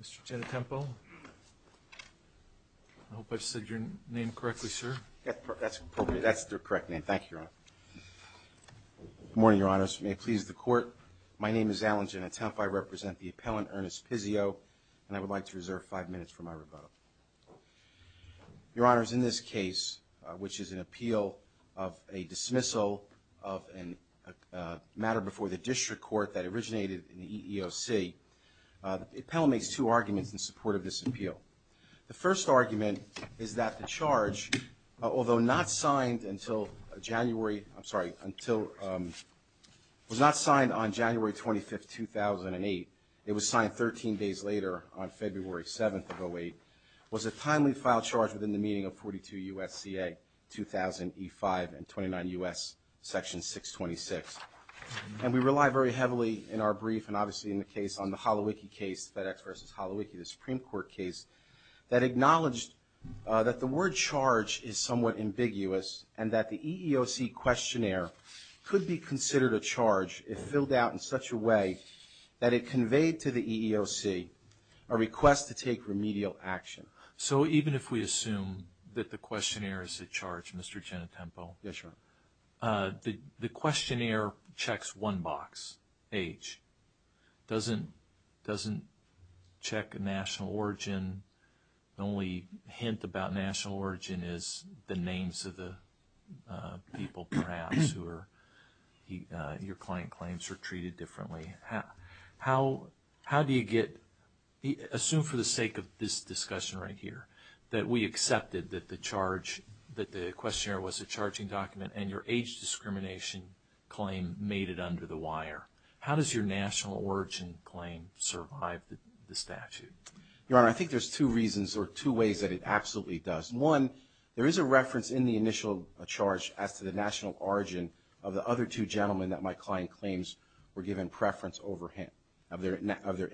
Mr. Gennatempo, I hope I said your name correctly, sir. That's appropriate. That's the correct name. Thank you, Your Honor. Good morning, Your Honors. May it please the Court, my name is Alan Gennatempo. I represent the appellant, Ernest Pizio, and I would like to reserve five minutes for my rebuttal. Your Honors, in this case, which is an appeal of a dismissal of a matter before the district court that originated in the EEOC, the appellant makes two arguments in support of this appeal. The first argument is that the charge, although not signed on January 25, 2008, it was signed 13 days later on February 7 of 2008, was a timely filed charge within the meaning of 42 U.S.C.A. 2000 E-5 and 29 U.S. Section 626. And we rely very heavily in our brief and obviously in the case on the Holowicki case, FedEx v. Holowicki, the Supreme Court case, that acknowledged that the word charge is somewhat ambiguous and that the EEOC questionnaire could be considered a charge if filled out in such a way that it conveyed to the EEOC a request to take remedial action. So even if we assume that the questionnaire is a charge, Mr. Gennatempo, the questionnaire checks one box, age. It doesn't check national origin. The only hint about national origin is the names of the people perhaps who your client claims are treated differently. How do you get, assume for the sake of this discussion right here, that we accepted that the charge, that the questionnaire was a charging document and your age discrimination claim made it under the wire? How does your national origin claim survive the statute? Your Honor, I think there's two reasons or two ways that it absolutely does. One, there is a reference in the initial charge as to the national origin of the other two gentlemen that my client claims were given preference over him of their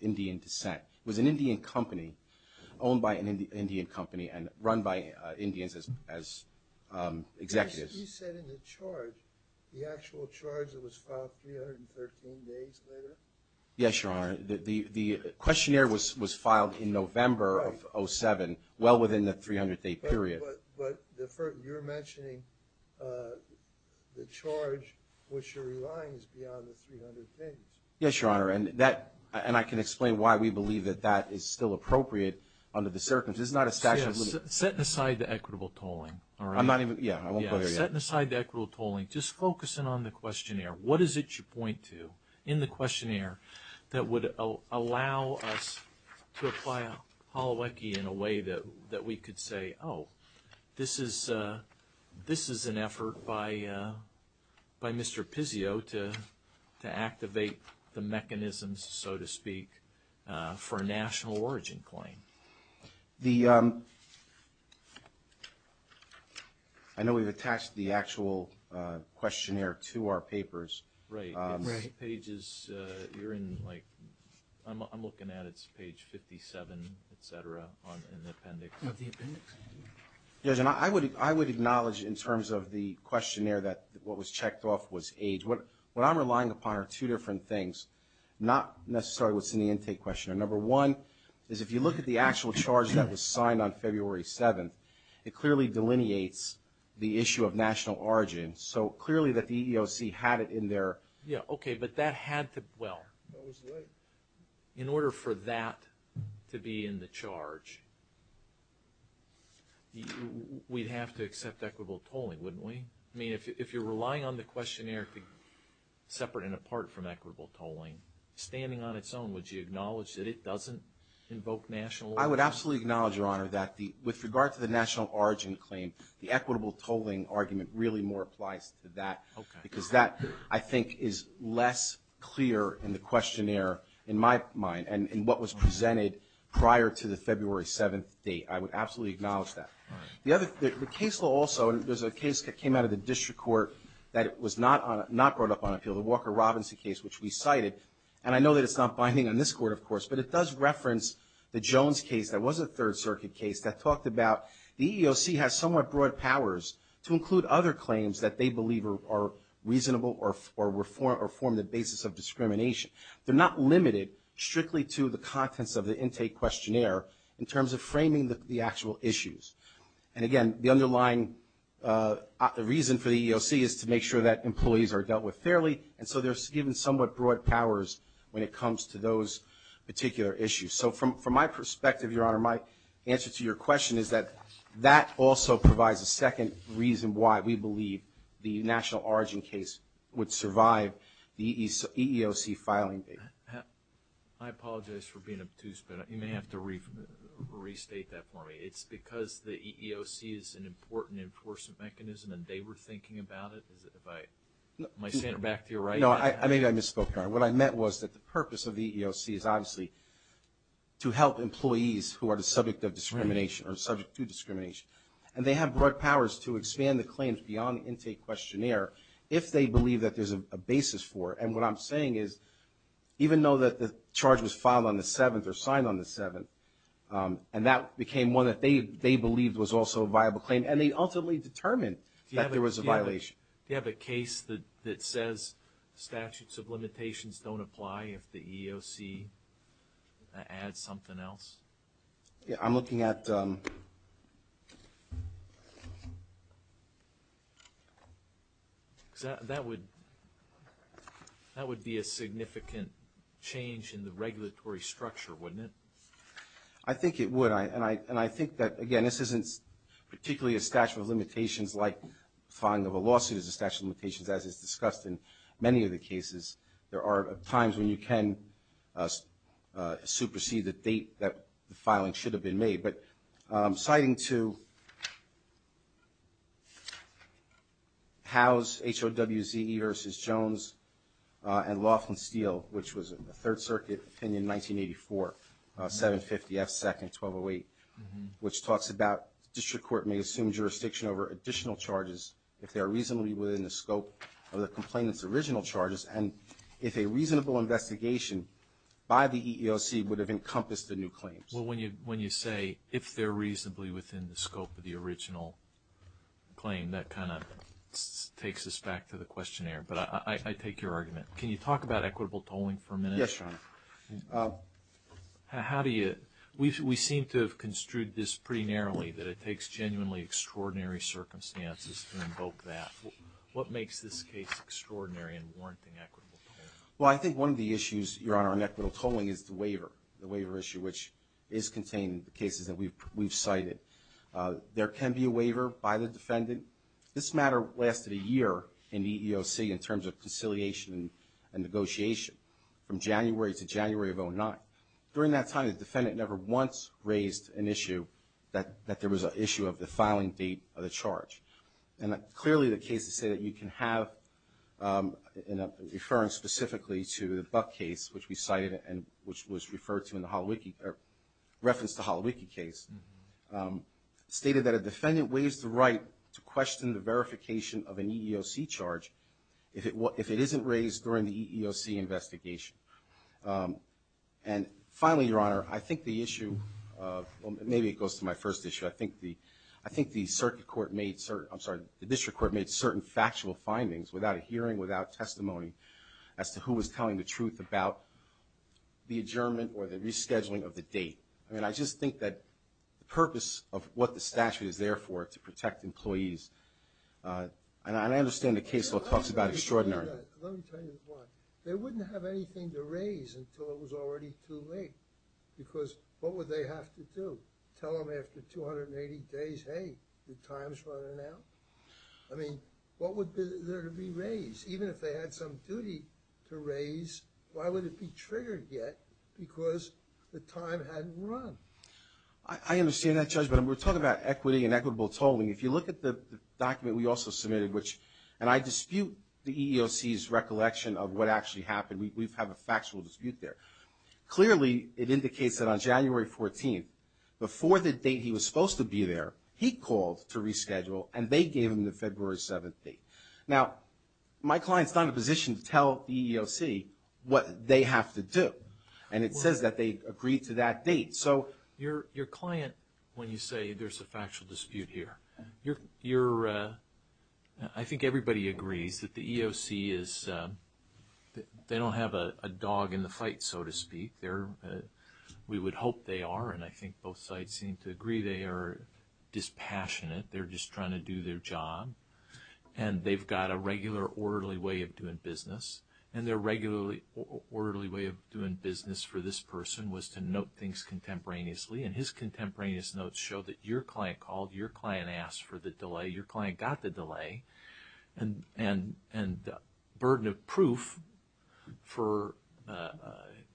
Indian descent. It was an Indian company, owned by an Indian company and run by Indians as executives. You said in the charge, the actual charge that was filed 313 days later? Yes, Your Honor. The questionnaire was filed in November of 07, well within the 300-day period. But you're mentioning the charge which relies beyond the 300 days. Yes, Your Honor. And I can explain why we believe that that is still appropriate under the circumstances. It's not a statute. Setting aside the equitable tolling, all right? I'm not even, yeah, I won't go there yet. Setting aside the equitable tolling, just focusing on the questionnaire. What is it you point to in the questionnaire that would allow us to apply Holowecki in a way that we could say, oh, this is an effort by Mr. Pizzio to activate the mechanisms, so to speak, for a national origin claim? I know we've attached the actual questionnaire to our papers. Right. I'm looking at it. It's page 57, et cetera, in the appendix. Of the appendix. Yes, Your Honor. I would acknowledge in terms of the questionnaire that what was checked off was age. What I'm relying upon are two different things, not necessarily what's in the intake questionnaire. Number one is if you look at the actual charge that was signed on February 7th, it clearly delineates the issue of national origin. So clearly that the EEOC had it in there. Yeah, okay, but that had to, well, in order for that to be in the charge, we'd have to accept equitable tolling, wouldn't we? I mean, if you're relying on the questionnaire to be separate and apart from equitable tolling, standing on its own, would you acknowledge that it doesn't invoke national origin? I would absolutely acknowledge, Your Honor, that with regard to the national origin claim, the equitable tolling argument really more applies to that. Okay. Because that, I think, is less clear in the questionnaire, in my mind, and what was presented prior to the February 7th date. I would absolutely acknowledge that. The other, the case law also, and there's a case that came out of the district court that was not brought up on appeal, the Walker-Robinson case, which we cited, and I know that it's not binding on this court, of course, but it does reference the Jones case that was a Third Circuit case that talked about the EEOC has somewhat broad powers to include other claims that they believe are reasonable or form the basis of discrimination. They're not limited strictly to the contents of the intake questionnaire in terms of framing the actual issues. And, again, the underlying reason for the EEOC is to make sure that employees are dealt with fairly, and so they're given somewhat broad powers when it comes to those particular issues. So from my perspective, Your Honor, my answer to your question is that that also provides a second reason why we believe the national origin case would survive the EEOC filing date. I apologize for being obtuse, but you may have to restate that for me. It's because the EEOC is an important enforcement mechanism and they were thinking about it? Am I saying it back to you right? No, maybe I misspoke, Your Honor. What I meant was that the purpose of the EEOC is obviously to help employees who are the subject of discrimination or subject to discrimination, and they have broad powers to expand the claims beyond the intake questionnaire if they believe that there's a basis for it. And what I'm saying is even though that the charge was filed on the 7th or signed on the 7th, and that became one that they believed was also a viable claim, and they ultimately determined that there was a violation. Do you have a case that says statutes of limitations don't apply if the EEOC adds something else? I'm looking at... That would be a significant change in the regulatory structure, wouldn't it? I think it would. And I think that, again, this isn't particularly a statute of limitations like filing of a lawsuit is a statute of limitations, as is discussed in many of the cases. There are times when you can supersede the date that the filing should have been made. But citing to Howe's H.O.W.Z.E. versus Jones and Laughlin-Steele, which was a Third Circuit opinion, 1984, 750 F. 2nd, 1208, which talks about district court may assume jurisdiction over additional charges if they are reasonably within the scope of the complainant's original charges, and if a reasonable investigation by the EEOC would have encompassed the new claims. Well, when you say if they're reasonably within the scope of the original claim, that kind of takes us back to the questionnaire. But I take your argument. Can you talk about equitable tolling for a minute? Yes, Your Honor. How do you... We seem to have construed this pretty narrowly, that it takes genuinely extraordinary circumstances to invoke that. What makes this case extraordinary in warranting equitable tolling? Well, I think one of the issues, Your Honor, in equitable tolling is the waiver, the waiver issue which is contained in the cases that we've cited. There can be a waiver by the defendant. This matter lasted a year in the EEOC in terms of conciliation and negotiation, from January to January of 2009. During that time, the defendant never once raised an issue that there was an issue of the filing date of the charge. And clearly the cases say that you can have, referring specifically to the Buck case, which we cited and which was referred to in the Holowicki, or reference to Holowicki case, stated that a defendant waives the right to question the verification of an EEOC charge if it isn't raised during the EEOC investigation. And finally, Your Honor, I think the issue of, maybe it goes to my first issue, I think the circuit court made certain, I'm sorry, the district court made certain factual findings, without a hearing, without testimony, as to who was telling the truth about the adjournment or the rescheduling of the date. I mean, I just think that the purpose of what the statute is there for, to protect employees, and I understand the case law talks about extraordinary. Let me tell you why. They wouldn't have anything to raise until it was already too late, because what would they have to do? Tell them after 280 days, hey, your time's running out? I mean, what would be there to be raised? Even if they had some duty to raise, why would it be triggered yet, because the time hadn't run? I understand that, Judge, but we're talking about equity and equitable tolling. If you look at the document we also submitted, which, and I dispute the EEOC's recollection of what actually happened. We have a factual dispute there. Clearly, it indicates that on January 14th, before the date he was supposed to be there, he called to reschedule, and they gave him the February 7th date. Now, my client's not in a position to tell the EEOC what they have to do, and it says that they agreed to that date. So your client, when you say there's a factual dispute here, I think everybody agrees that the EEOC is, they don't have a dog in the fight, so to speak. We would hope they are, and I think both sides seem to agree they are dispassionate. They're just trying to do their job, and they've got a regular orderly way of doing business, and their regular orderly way of doing business for this person was to note things contemporaneously, and his contemporaneous notes show that your client called, your client asked for the delay, your client got the delay, and the burden of proof for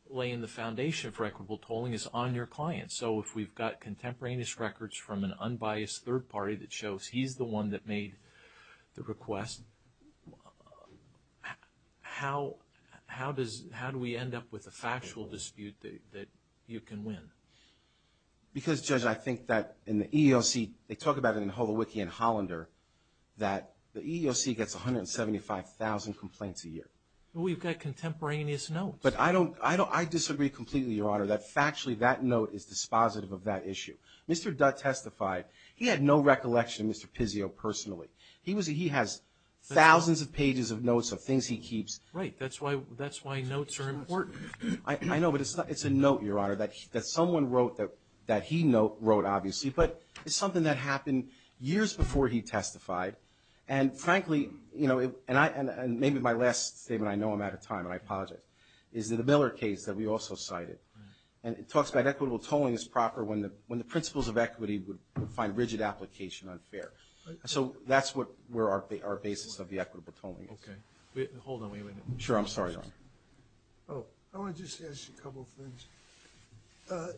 laying the foundation for equitable tolling is on your client. So if we've got contemporaneous records from an unbiased third party that shows he's the one that made the request, how does, how do we end up with a factual dispute that you can win? Because, Judge, I think that in the EEOC, they talk about it in Holowiki and Hollander, that the EEOC gets 175,000 complaints a year. We've got contemporaneous notes. But I don't, I disagree completely, Your Honor, that factually that note is dispositive of that issue. Mr. Dutt testified, he had no recollection of Mr. Pizzio personally. He was, he has thousands of pages of notes of things he keeps. Right. That's why notes are important. I know, but it's a note, Your Honor, that someone wrote that he wrote, obviously, but it's something that happened years before he testified, and frankly, you know, and maybe my last statement, I know I'm out of time, and I apologize, is the Miller case that we also cited. And it talks about equitable tolling is proper when the principles of equity would find rigid application unfair. So that's what our basis of the equitable tolling is. Okay. Hold on, wait a minute. Sure, I'm sorry, Your Honor. Oh, I want to just ask you a couple of things.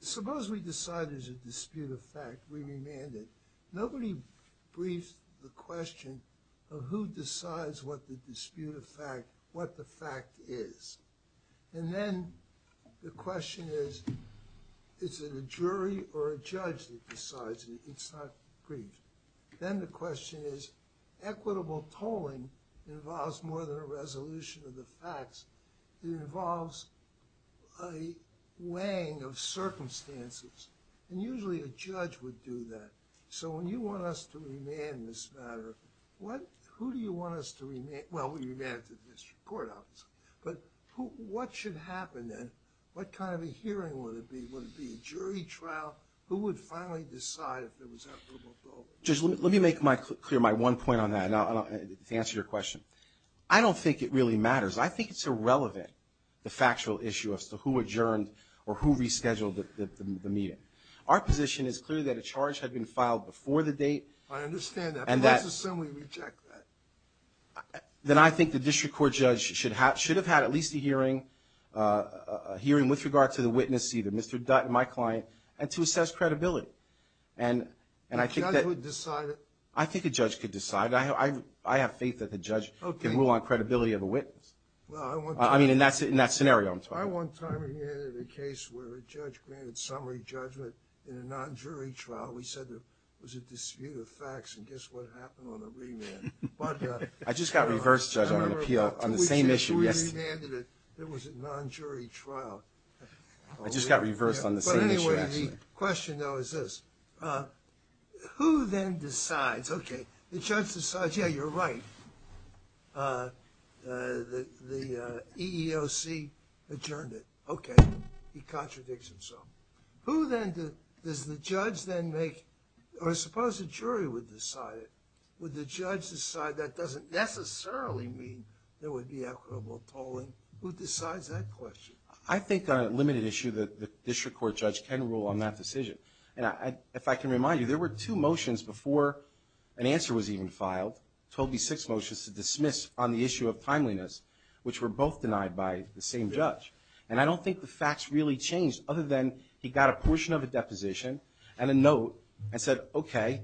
Suppose we decide there's a dispute of fact, we remand it. Nobody briefs the question of who decides what the dispute of fact, what the fact is. And then the question is, is it a jury or a judge that decides it? It's not briefed. Then the question is, equitable tolling involves more than a resolution of the facts. It involves a weighing of circumstances, and usually a judge would do that. So when you want us to remand this matter, who do you want us to remand? Well, we remand it to the district court officer. But what should happen then? What kind of a hearing would it be? Would it be a jury trial? Who would finally decide if it was equitable tolling? Judge, let me make clear my one point on that to answer your question. I don't think it really matters. I think it's irrelevant, the factual issue as to who adjourned or who rescheduled the meeting. Our position is clear that a charge had been filed before the date. I understand that, but let's assume we reject that. Then I think the district court judge should have had at least a hearing, a hearing with regard to the witness, either Mr. Dutton, my client, and to assess credibility. And I think that... A judge would decide it? I think a judge could decide it. I have faith that the judge can rule on credibility of a witness. Well, I want to... I mean, in that scenario I'm talking about. I one time had a case where a judge granted summary judgment in a non-jury trial. We said there was a dispute of facts, and guess what happened on the remand? I just got reversed, Judge, on an appeal on the same issue. We remanded it. It was a non-jury trial. I just got reversed on the same issue, actually. But anyway, the question, though, is this. Who then decides? Okay, the judge decides, yeah, you're right. The EEOC adjourned it. Okay. He contradicts himself. Who then does the judge then make... Or suppose a jury would decide it. Would the judge decide that doesn't necessarily mean there would be equitable tolling? Who decides that question? I think on a limited issue the district court judge can rule on that decision. And if I can remind you, there were two motions before an answer was even filed, 12B6 motions, to dismiss on the issue of timeliness, which were both denied by the same judge. And I don't think the facts really changed other than he got a portion of a deposition and a note and said, okay,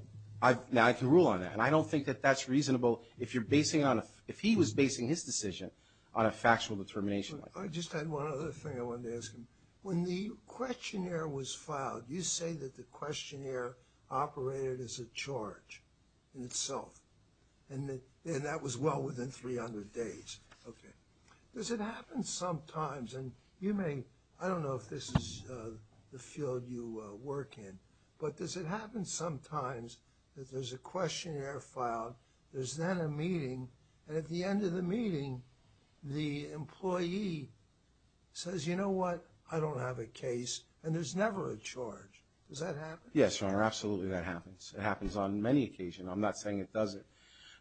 now I can rule on that. And I don't think that that's reasonable if he was basing his decision on a factual determination. I just had one other thing I wanted to ask him. When the questionnaire was filed, you say that the questionnaire operated as a charge in itself, and that was well within 300 days. Okay. Does it happen sometimes, and you may, I don't know if this is the field you work in, but does it happen sometimes that there's a questionnaire filed, there's then a meeting, and at the end of the meeting the employee says, you know what, I don't have a case, and there's never a charge? Does that happen? Yes, Your Honor, absolutely that happens. It happens on many occasions. I'm not saying it doesn't.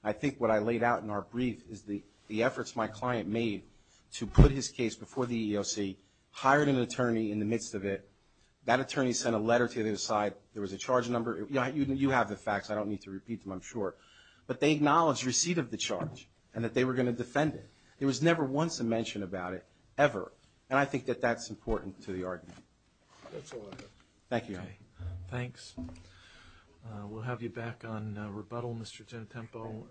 I think what I laid out in our brief is the efforts my client made to put his case before the EEOC, hired an attorney in the midst of it. That attorney sent a letter to the other side. There was a charge number. You have the facts. I don't need to repeat them, I'm sure. But they acknowledged receipt of the charge and that they were going to defend it. There was never once a mention about it, ever. And I think that that's important to the argument. That's all I have. Thank you, Your Honor. Thanks. We'll have you back on rebuttal, Mr. Tintempo.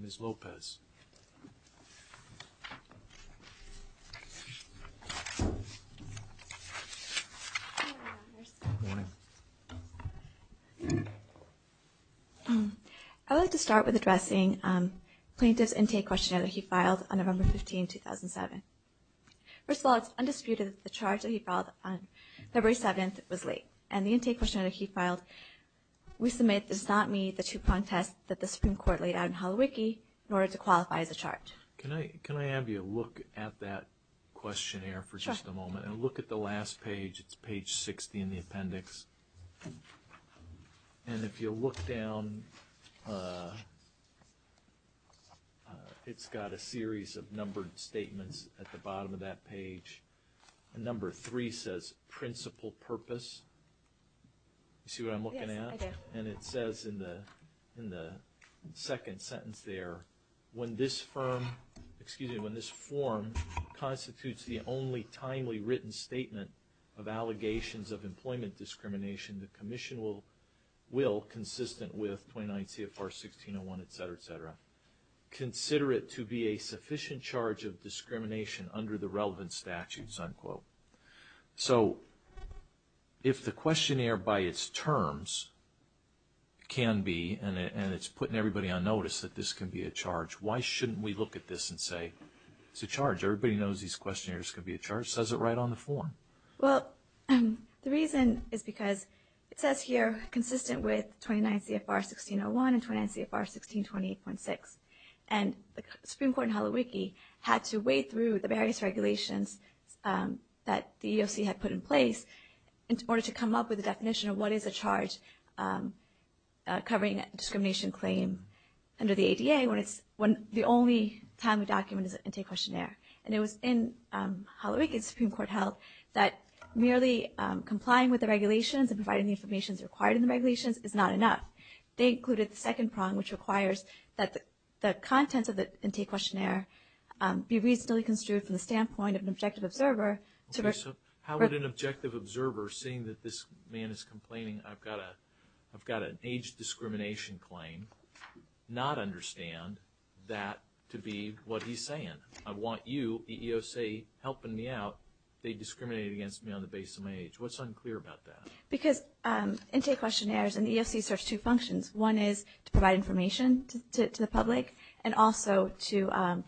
Ms. Lopez. I'd like to start with addressing plaintiff's intake questionnaire that he filed on November 15, 2007. First of all, it's undisputed that the charge that he filed on February 7th was late, and the intake questionnaire that he filed we submit does not meet the two-prong test that the Supreme Court laid out in Holowicki in order to qualify as a charge. Can I have you look at that questionnaire for just a moment? Sure. And look at the last page. It's page 60 in the appendix. And if you'll look down, it's got a series of numbered statements at the bottom of that page. And number three says principal purpose. You see what I'm looking at? Yes, I do. And it says in the second sentence there, when this form constitutes the only timely written statement of allegations of employment discrimination, the commission will, consistent with 29 CFR 1601, et cetera, et cetera, consider it to be a sufficient charge of discrimination under the relevant statutes, unquote. So if the questionnaire by its terms can be, and it's putting everybody on notice that this can be a charge, why shouldn't we look at this and say it's a charge? Everybody knows these questionnaires can be a charge. It says it right on the form. Well, the reason is because it says here consistent with 29 CFR 1601 and 29 CFR 1628.6. And the Supreme Court in Holowiki had to wade through the various regulations that the EEOC had put in place in order to come up with a definition of what is a charge covering a discrimination claim under the ADA when the only timely document is an intake questionnaire. And it was in Holowiki that the Supreme Court held that merely complying with the regulations and providing the information that's required in the regulations is not enough. They included the second prong, which requires that the contents of the intake questionnaire be reasonably construed from the standpoint of an objective observer. Okay, so how would an objective observer, seeing that this man is complaining, I've got an age discrimination claim, not understand that to be what he's saying? I want you, the EEOC, helping me out. They discriminate against me on the basis of my age. What's unclear about that? Because intake questionnaires and the EEOC serves two functions. One is to provide information to the public and also to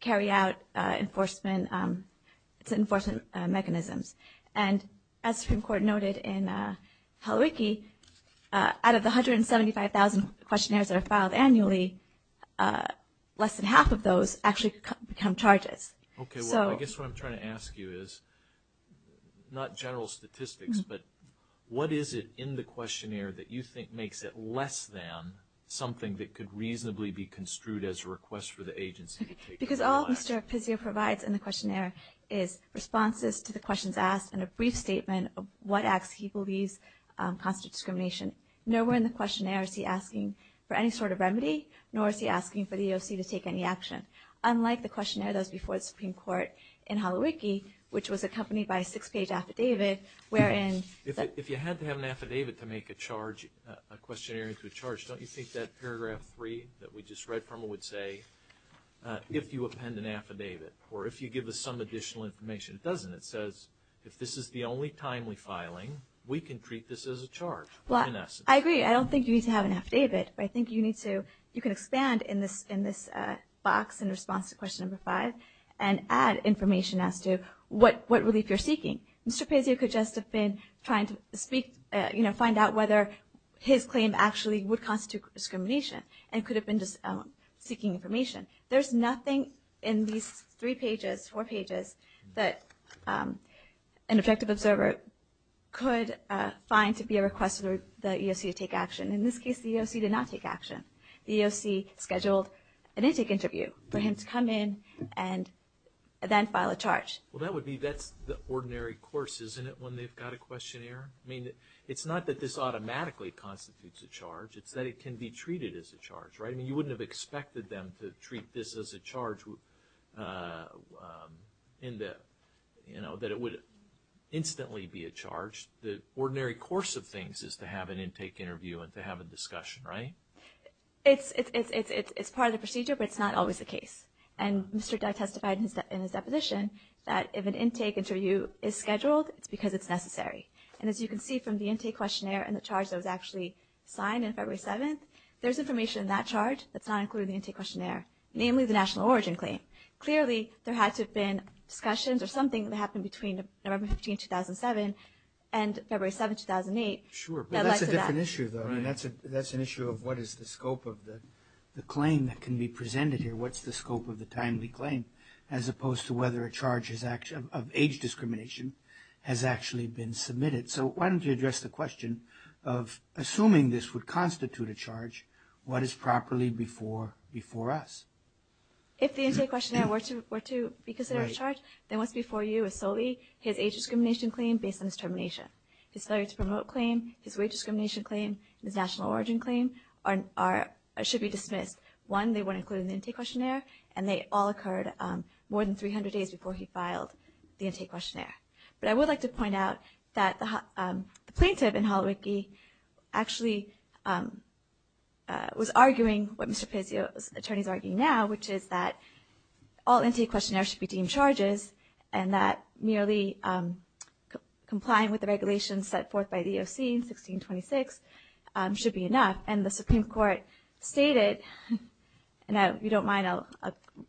carry out enforcement mechanisms. And as the Supreme Court noted in Holowiki, out of the 175,000 questionnaires that are filed annually, less than half of those actually become charges. Okay, well, I guess what I'm trying to ask you is, not general statistics, but what is it in the questionnaire that you think makes it less than something that could reasonably be construed as a request for the agency to take it online? Because all Mr. Pizzio provides in the questionnaire is responses to the questions asked and a brief statement of what acts he believes constitute discrimination. Nowhere in the questionnaire is he asking for any sort of remedy, nor is he asking for the EEOC to take any action. Unlike the questionnaire that was before the Supreme Court in Holowiki, which was accompanied by a six-page affidavit wherein the – If you had to have an affidavit to make a charge, a questionnaire into a charge, don't you think that paragraph three that we just read from it would say, if you append an affidavit or if you give us some additional information? It doesn't. If this is the only timely filing, we can treat this as a charge in essence. I agree. I don't think you need to have an affidavit, but I think you need to – you can expand in this box in response to question number five and add information as to what relief you're seeking. Mr. Pizzio could just have been trying to speak – find out whether his claim actually would constitute discrimination and could have been just seeking information. There's nothing in these three pages, four pages, that an objective observer could find to be a request for the EEOC to take action. In this case, the EEOC did not take action. The EEOC scheduled an intake interview for him to come in and then file a charge. Well, that would be – that's the ordinary course, isn't it, when they've got a questionnaire? I mean, it's not that this automatically constitutes a charge. It's that it can be treated as a charge, right? I mean, you wouldn't have expected them to treat this as a charge in the – you know, that it would instantly be a charge. The ordinary course of things is to have an intake interview and to have a discussion, right? It's part of the procedure, but it's not always the case. And Mr. Dye testified in his deposition that if an intake interview is scheduled, it's because it's necessary. And as you can see from the intake questionnaire and the charge that was actually signed on February 7th, there's information in that charge that's not included in the intake questionnaire, namely the national origin claim. Clearly, there had to have been discussions or something that happened between November 15th, 2007 and February 7th, 2008 that led to that. Sure, but that's a different issue, though. I mean, that's an issue of what is the scope of the claim that can be presented here, what's the scope of the timely claim, as opposed to whether a charge of age discrimination has actually been submitted. So why don't you address the question of assuming this would constitute a charge, what is properly before us? If the intake questionnaire were to be considered a charge, then what's before you is solely his age discrimination claim based on his termination. His failure to promote claim, his wage discrimination claim, and his national origin claim should be dismissed. One, they weren't included in the intake questionnaire, and they all occurred more than 300 days before he filed the intake questionnaire. But I would like to point out that the plaintiff in Holowicki actually was arguing what Mr. Pezzio's attorney is arguing now, which is that all intake questionnaires should be deemed charges and that merely complying with the regulations set forth by the EOC in 1626 should be enough. And the Supreme Court stated, and if you don't mind, I'll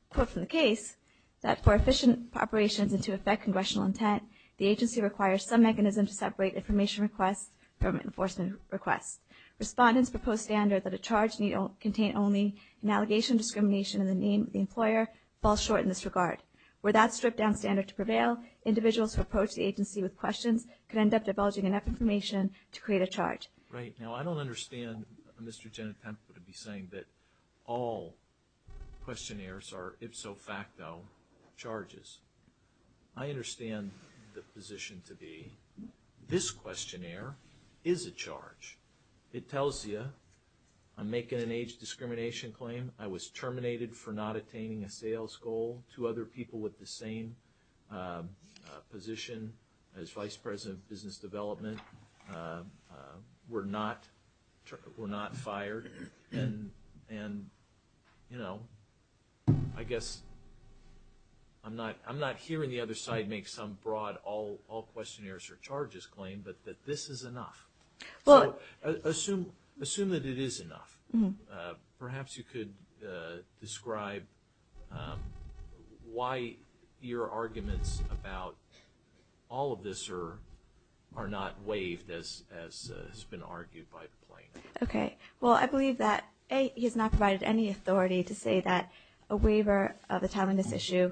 quote from the case, that for efficient operations and to affect congressional intent, the agency requires some mechanism to separate information requests from enforcement requests. Respondents propose standard that a charge need contain only an allegation of discrimination in the name of the employer falls short in this regard. Were that stripped down standard to prevail, individuals who approach the agency with questions could end up divulging enough information to create a charge. Right. Now, I don't understand Mr. Genetempo to be saying that all questionnaires are ipso facto charges. I understand the position to be this questionnaire is a charge. It tells you I'm making an age discrimination claim. I was terminated for not attaining a sales goal. Two other people with the same position as vice president of business development were not fired. And, you know, I guess I'm not hearing the other side make some broad all questionnaires are charges claim, but that this is enough. Assume that it is enough. Perhaps you could describe why your arguments about all of this are not waived as has been argued by the plaintiff. Okay. Well, I believe that, A, he has not provided any authority to say that a waiver of a timeliness issue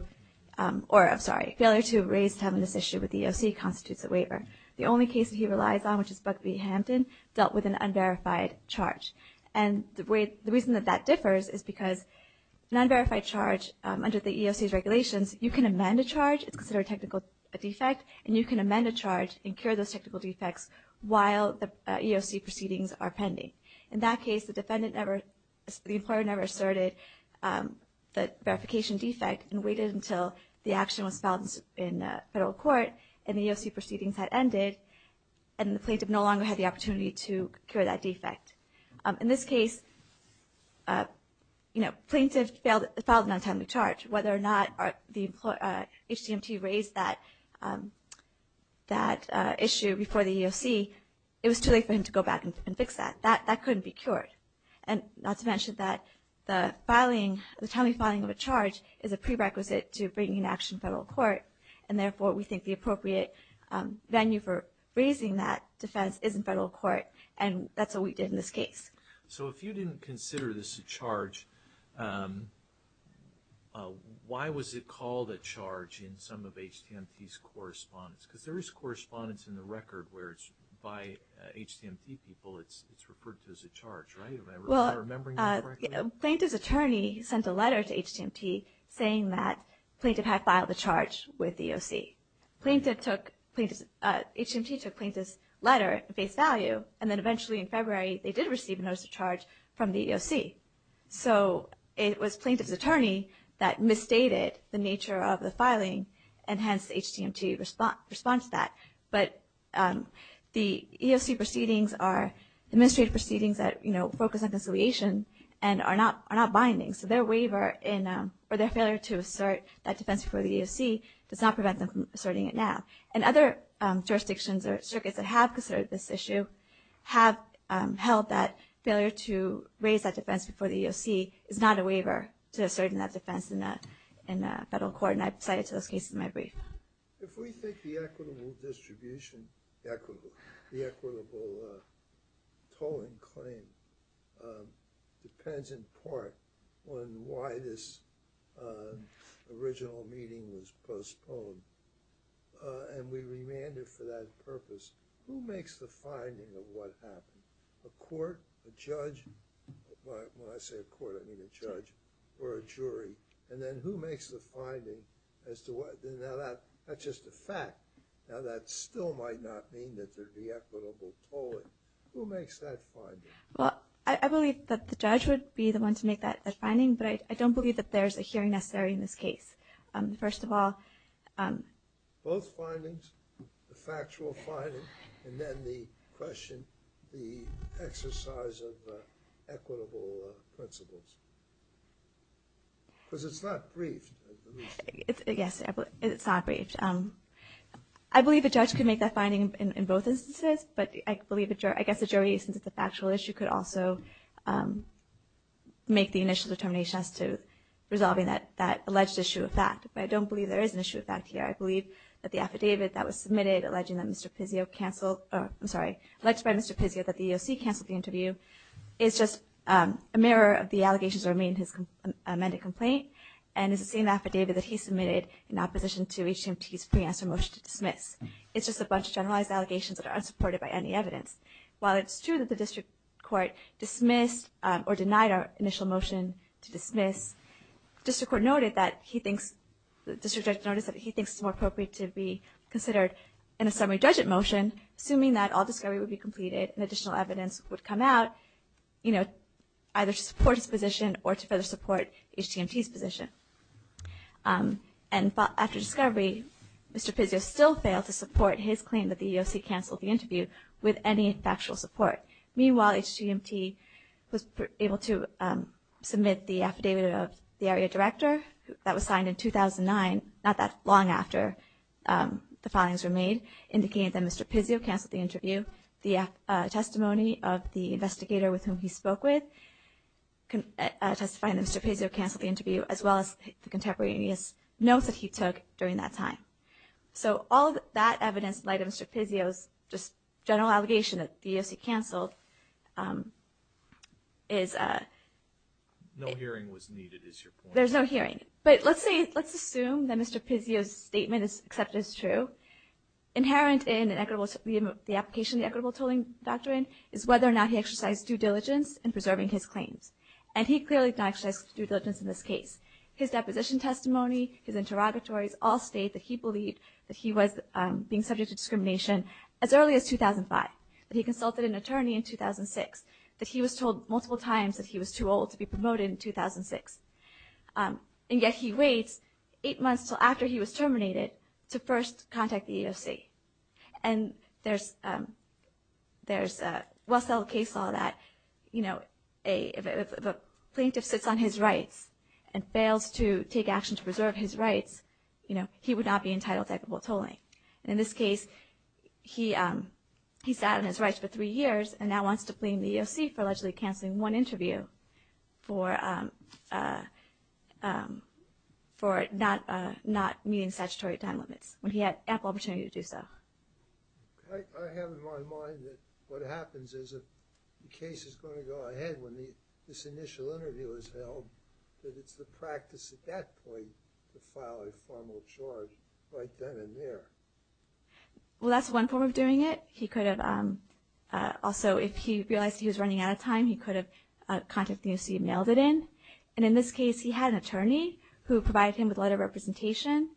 or, I'm sorry, failure to raise timeliness issue with the EOC constitutes a waiver. The only case that he relies on, which is Buck v. Hampton, dealt with an unverified charge. And the reason that that differs is because an unverified charge under the EOC's regulations, you can amend a charge, it's considered a technical defect, and you can amend a charge and cure those technical defects while the EOC proceedings are pending. In that case, the defendant never, the employer never asserted the verification defect and waited until the action was filed in federal court and the EOC proceedings had ended and the plaintiff no longer had the opportunity to cure that defect. In this case, you know, plaintiff filed a non-timely charge. Whether or not the HCMT raised that issue before the EOC, it was too late for him to go back and fix that. That couldn't be cured. And not to mention that the filing, the timely filing of a charge, is a prerequisite to bringing an action to federal court and therefore we think the appropriate venue for raising that defense is in federal court and that's what we did in this case. So if you didn't consider this a charge, why was it called a charge in some of HCMT's correspondence? Because there is correspondence in the record where it's by HCMT people it's referred to as a charge, right? Am I remembering that correctly? Plaintiff's attorney sent a letter to HCMT saying that plaintiff had filed a charge with the EOC. HCMT took plaintiff's letter at face value and then eventually in February they did receive a notice of charge from the EOC. So it was plaintiff's attorney that misstated the nature of the filing and hence HCMT responds to that. But the EOC proceedings are administrative proceedings that focus on conciliation and are not binding. So their waiver or their failure to assert that defense before the EOC does not prevent them from asserting it now. And other jurisdictions or circuits that have considered this issue have held that failure to raise that defense before the EOC is not a waiver to assert that defense in federal court and I apply it to this case in my brief. If we think the equitable distribution, the equitable tolling claim depends in part on why this original meeting was postponed and we remanded for that purpose, who makes the finding of what happened? A court, a judge, when I say a court I mean a judge or a jury. And then who makes the finding as to what, now that's just a fact. Now that still might not mean that there's the equitable tolling. Who makes that finding? Well, I believe that the judge would be the one to make that finding but I don't believe that there's a hearing necessary in this case. First of all... Both findings, the factual finding and then the question, the exercise of equitable principles. Because it's not briefed. Yes, it's not briefed. I believe the judge could make that finding in both instances but I guess the jury, since it's a factual issue, could also make the initial determination as to resolving that alleged issue of fact. But I don't believe there is an issue of fact here. I believe that the affidavit that was submitted alleging that Mr. Pizzio canceled... I'm sorry, alleged by Mr. Pizzio that the EOC canceled the interview is just a mirror of the allegations that were made in his amended complaint and is the same affidavit that he submitted in opposition to HTMT's pre-answer motion to dismiss. It's just a bunch of generalized allegations that are unsupported by any evidence. While it's true that the district court dismissed or denied our initial motion to dismiss, the district judge noted that he thinks it's more appropriate to be considered in a summary judgment motion assuming that all discovery would be completed and additional evidence would come out either to support his position or to further support HTMT's position. And after discovery, Mr. Pizzio still failed to support his claim that the EOC canceled the interview with any factual support. Meanwhile, HTMT was able to submit the affidavit of the area director that was signed in 2009, not that long after the filings were made, indicating that Mr. Pizzio canceled the interview. The testimony of the investigator with whom he spoke with testifying that Mr. Pizzio canceled the interview as well as the contemporaneous notes that he took during that time. So all of that evidence, in light of Mr. Pizzio's general allegation that the EOC canceled, is... No hearing was needed is your point. There's no hearing. But let's assume that Mr. Pizzio's statement is accepted as true. Inherent in the application of the equitable tolling doctrine is whether or not he exercised due diligence in preserving his claims. And he clearly did not exercise due diligence in this case. His deposition testimony, his interrogatories, all state that he believed that he was being subject to discrimination as early as 2005. That he consulted an attorney in 2006. That he was told multiple times that he was too old to be promoted in 2006. And yet he waits eight months until after he was terminated to first contact the EOC. And there's a well settled case law that if a plaintiff sits on his rights and fails to take action to preserve his rights, he would not be entitled to equitable tolling. In this case, he sat on his rights for three years and now wants to blame the EOC for allegedly canceling one interview for not meeting statutory time limits. When he had ample opportunity to do so. I have in my mind that what happens is if the case is going to go ahead when this initial interview is held, that it's the practice at that point to file a formal charge right then and there. Well, that's one form of doing it. Also, if he realized he was running out of time, he could have contacted the EOC and mailed it in. And in this case, he had an attorney who provided him with letter of representation.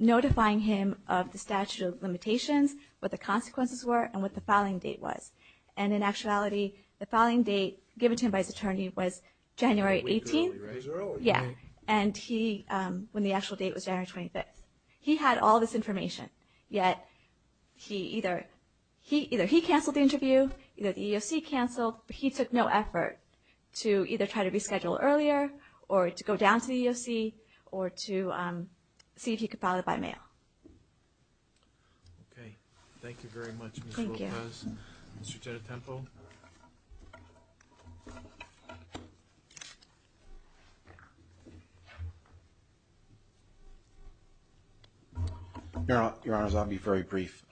Notifying him of the statute of limitations, what the consequences were, and what the filing date was. And in actuality, the filing date given to him by his attorney was January 18th. Yeah. And he, when the actual date was January 25th. He had all this information, yet either he canceled the interview, the EOC canceled, but he took no effort to either try to reschedule earlier or to go down to the EOC or to see if he could file it by mail. Okay. Thank you very much, Ms. Lopez. Thank you. Mr. Tenetempo. Your Honors, I'll be very brief.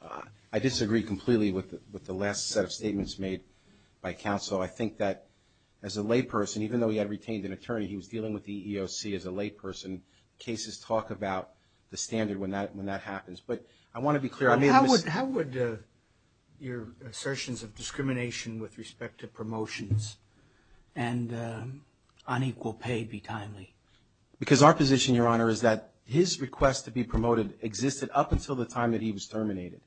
I disagree completely with the last set of statements made by counsel. I think that as a layperson, even though he had retained an attorney, he was dealing with the EOC as a layperson. Cases talk about the standard when that happens. But I want to be clear. How would your assertions of discrimination with respect to promotions and unequal pay be timely? Because our position, Your Honor, is that his request to be promoted existed up until the time that he was terminated.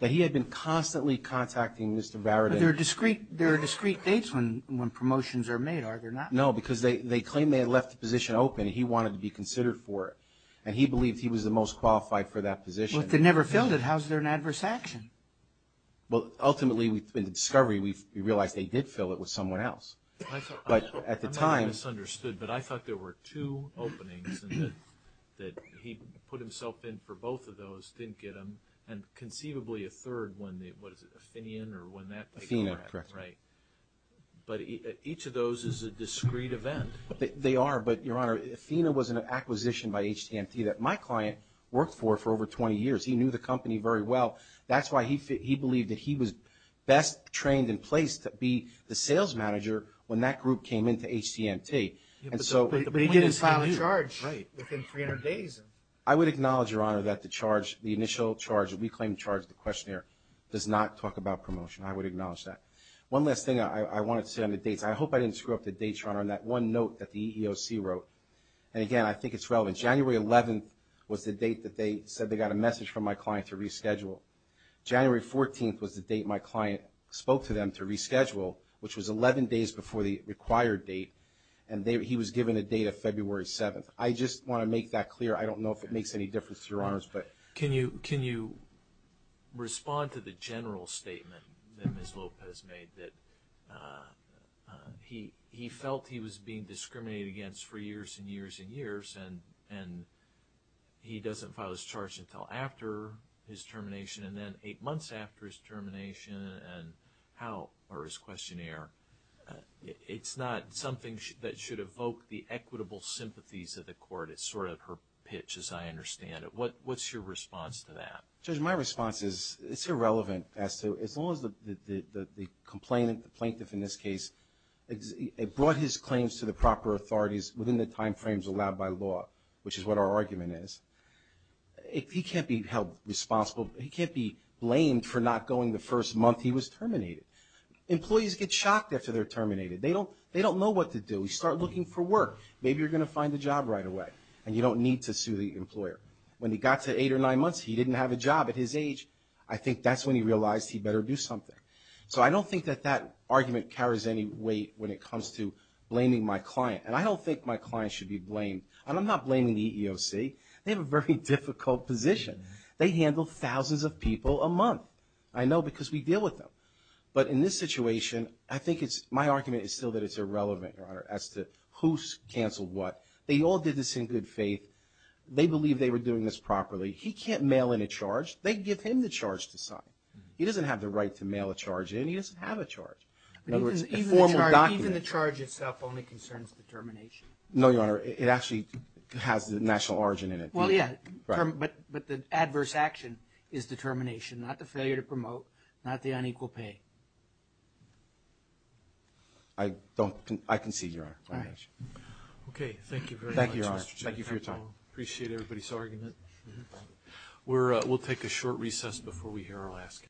That he had been constantly contacting Mr. Varadin. But there are discrete dates when promotions are made, are there not? No, because they claim they had left the position open. He wanted to be considered for it. And he believed he was the most qualified for that position. But they never filled it. How is there an adverse action? Well, ultimately, in the discovery, we realized they did fill it with someone else. I'm not being misunderstood, but I thought there were two openings and that he put himself in for both of those, didn't get them, and conceivably a third when the, what is it, Athenian or when that? Athena, correct. Right. But each of those is a discrete event. They are. But, Your Honor, Athena was an acquisition by HTMT that my client worked for for over 20 years. He knew the company very well. That's why he believed that he was best trained in place to be the sales manager when that group came into HTMT. But he didn't file a charge within 300 days. I would acknowledge, Your Honor, that the charge, the initial charge, the reclaimed charge, the questionnaire, does not talk about promotion. I would acknowledge that. One last thing I wanted to say on the dates. I hope I didn't screw up the dates, Your Honor, on that one note that the EEOC wrote. And, again, I think it's relevant. January 11th was the date that they said they got a message from my client to reschedule. January 14th was the date my client spoke to them to reschedule, which was 11 days before the required date, and he was given a date of February 7th. I just want to make that clear. I don't know if it makes any difference to Your Honors, but. Can you respond to the general statement that Ms. Lopez made that he felt he was being discriminated against for years and years and years, and he doesn't file his charge until after his termination, and then eight months after his termination, and how, or his questionnaire. It's not something that should evoke the equitable sympathies of the court. It's sort of her pitch, as I understand it. What's your response to that? Judge, my response is it's irrelevant as to, as long as the complainant, the plaintiff in this case, brought his claims to the proper authorities within the time frames allowed by law, which is what our argument is. He can't be held responsible. He can't be blamed for not going the first month he was terminated. Employees get shocked after they're terminated. They don't know what to do. You start looking for work. Maybe you're going to find a job right away, and you don't need to sue the employer. When he got to eight or nine months, he didn't have a job at his age. I think that's when he realized he better do something. So I don't think that that argument carries any weight when it comes to blaming my client, and I don't think my client should be blamed. And I'm not blaming the EEOC. They have a very difficult position. They handle thousands of people a month, I know, because we deal with them. But in this situation, I think it's, my argument is still that it's irrelevant, Your Honor, as to who's canceled what. They all did this in good faith. They believed they were doing this properly. He can't mail in a charge. They give him the charge to sign. He doesn't have the right to mail a charge in. He doesn't have a charge. In other words, a formal document. Even the charge itself only concerns the termination. No, Your Honor. It actually has the national origin in it. Well, yeah. But the adverse action is the termination, not the failure to promote, not the unequal pay. I concede, Your Honor. All right. Okay. Thank you very much, Mr. Chairman. Thank you for your time. Appreciate everybody's argument. We'll take a short recess before we hear our last.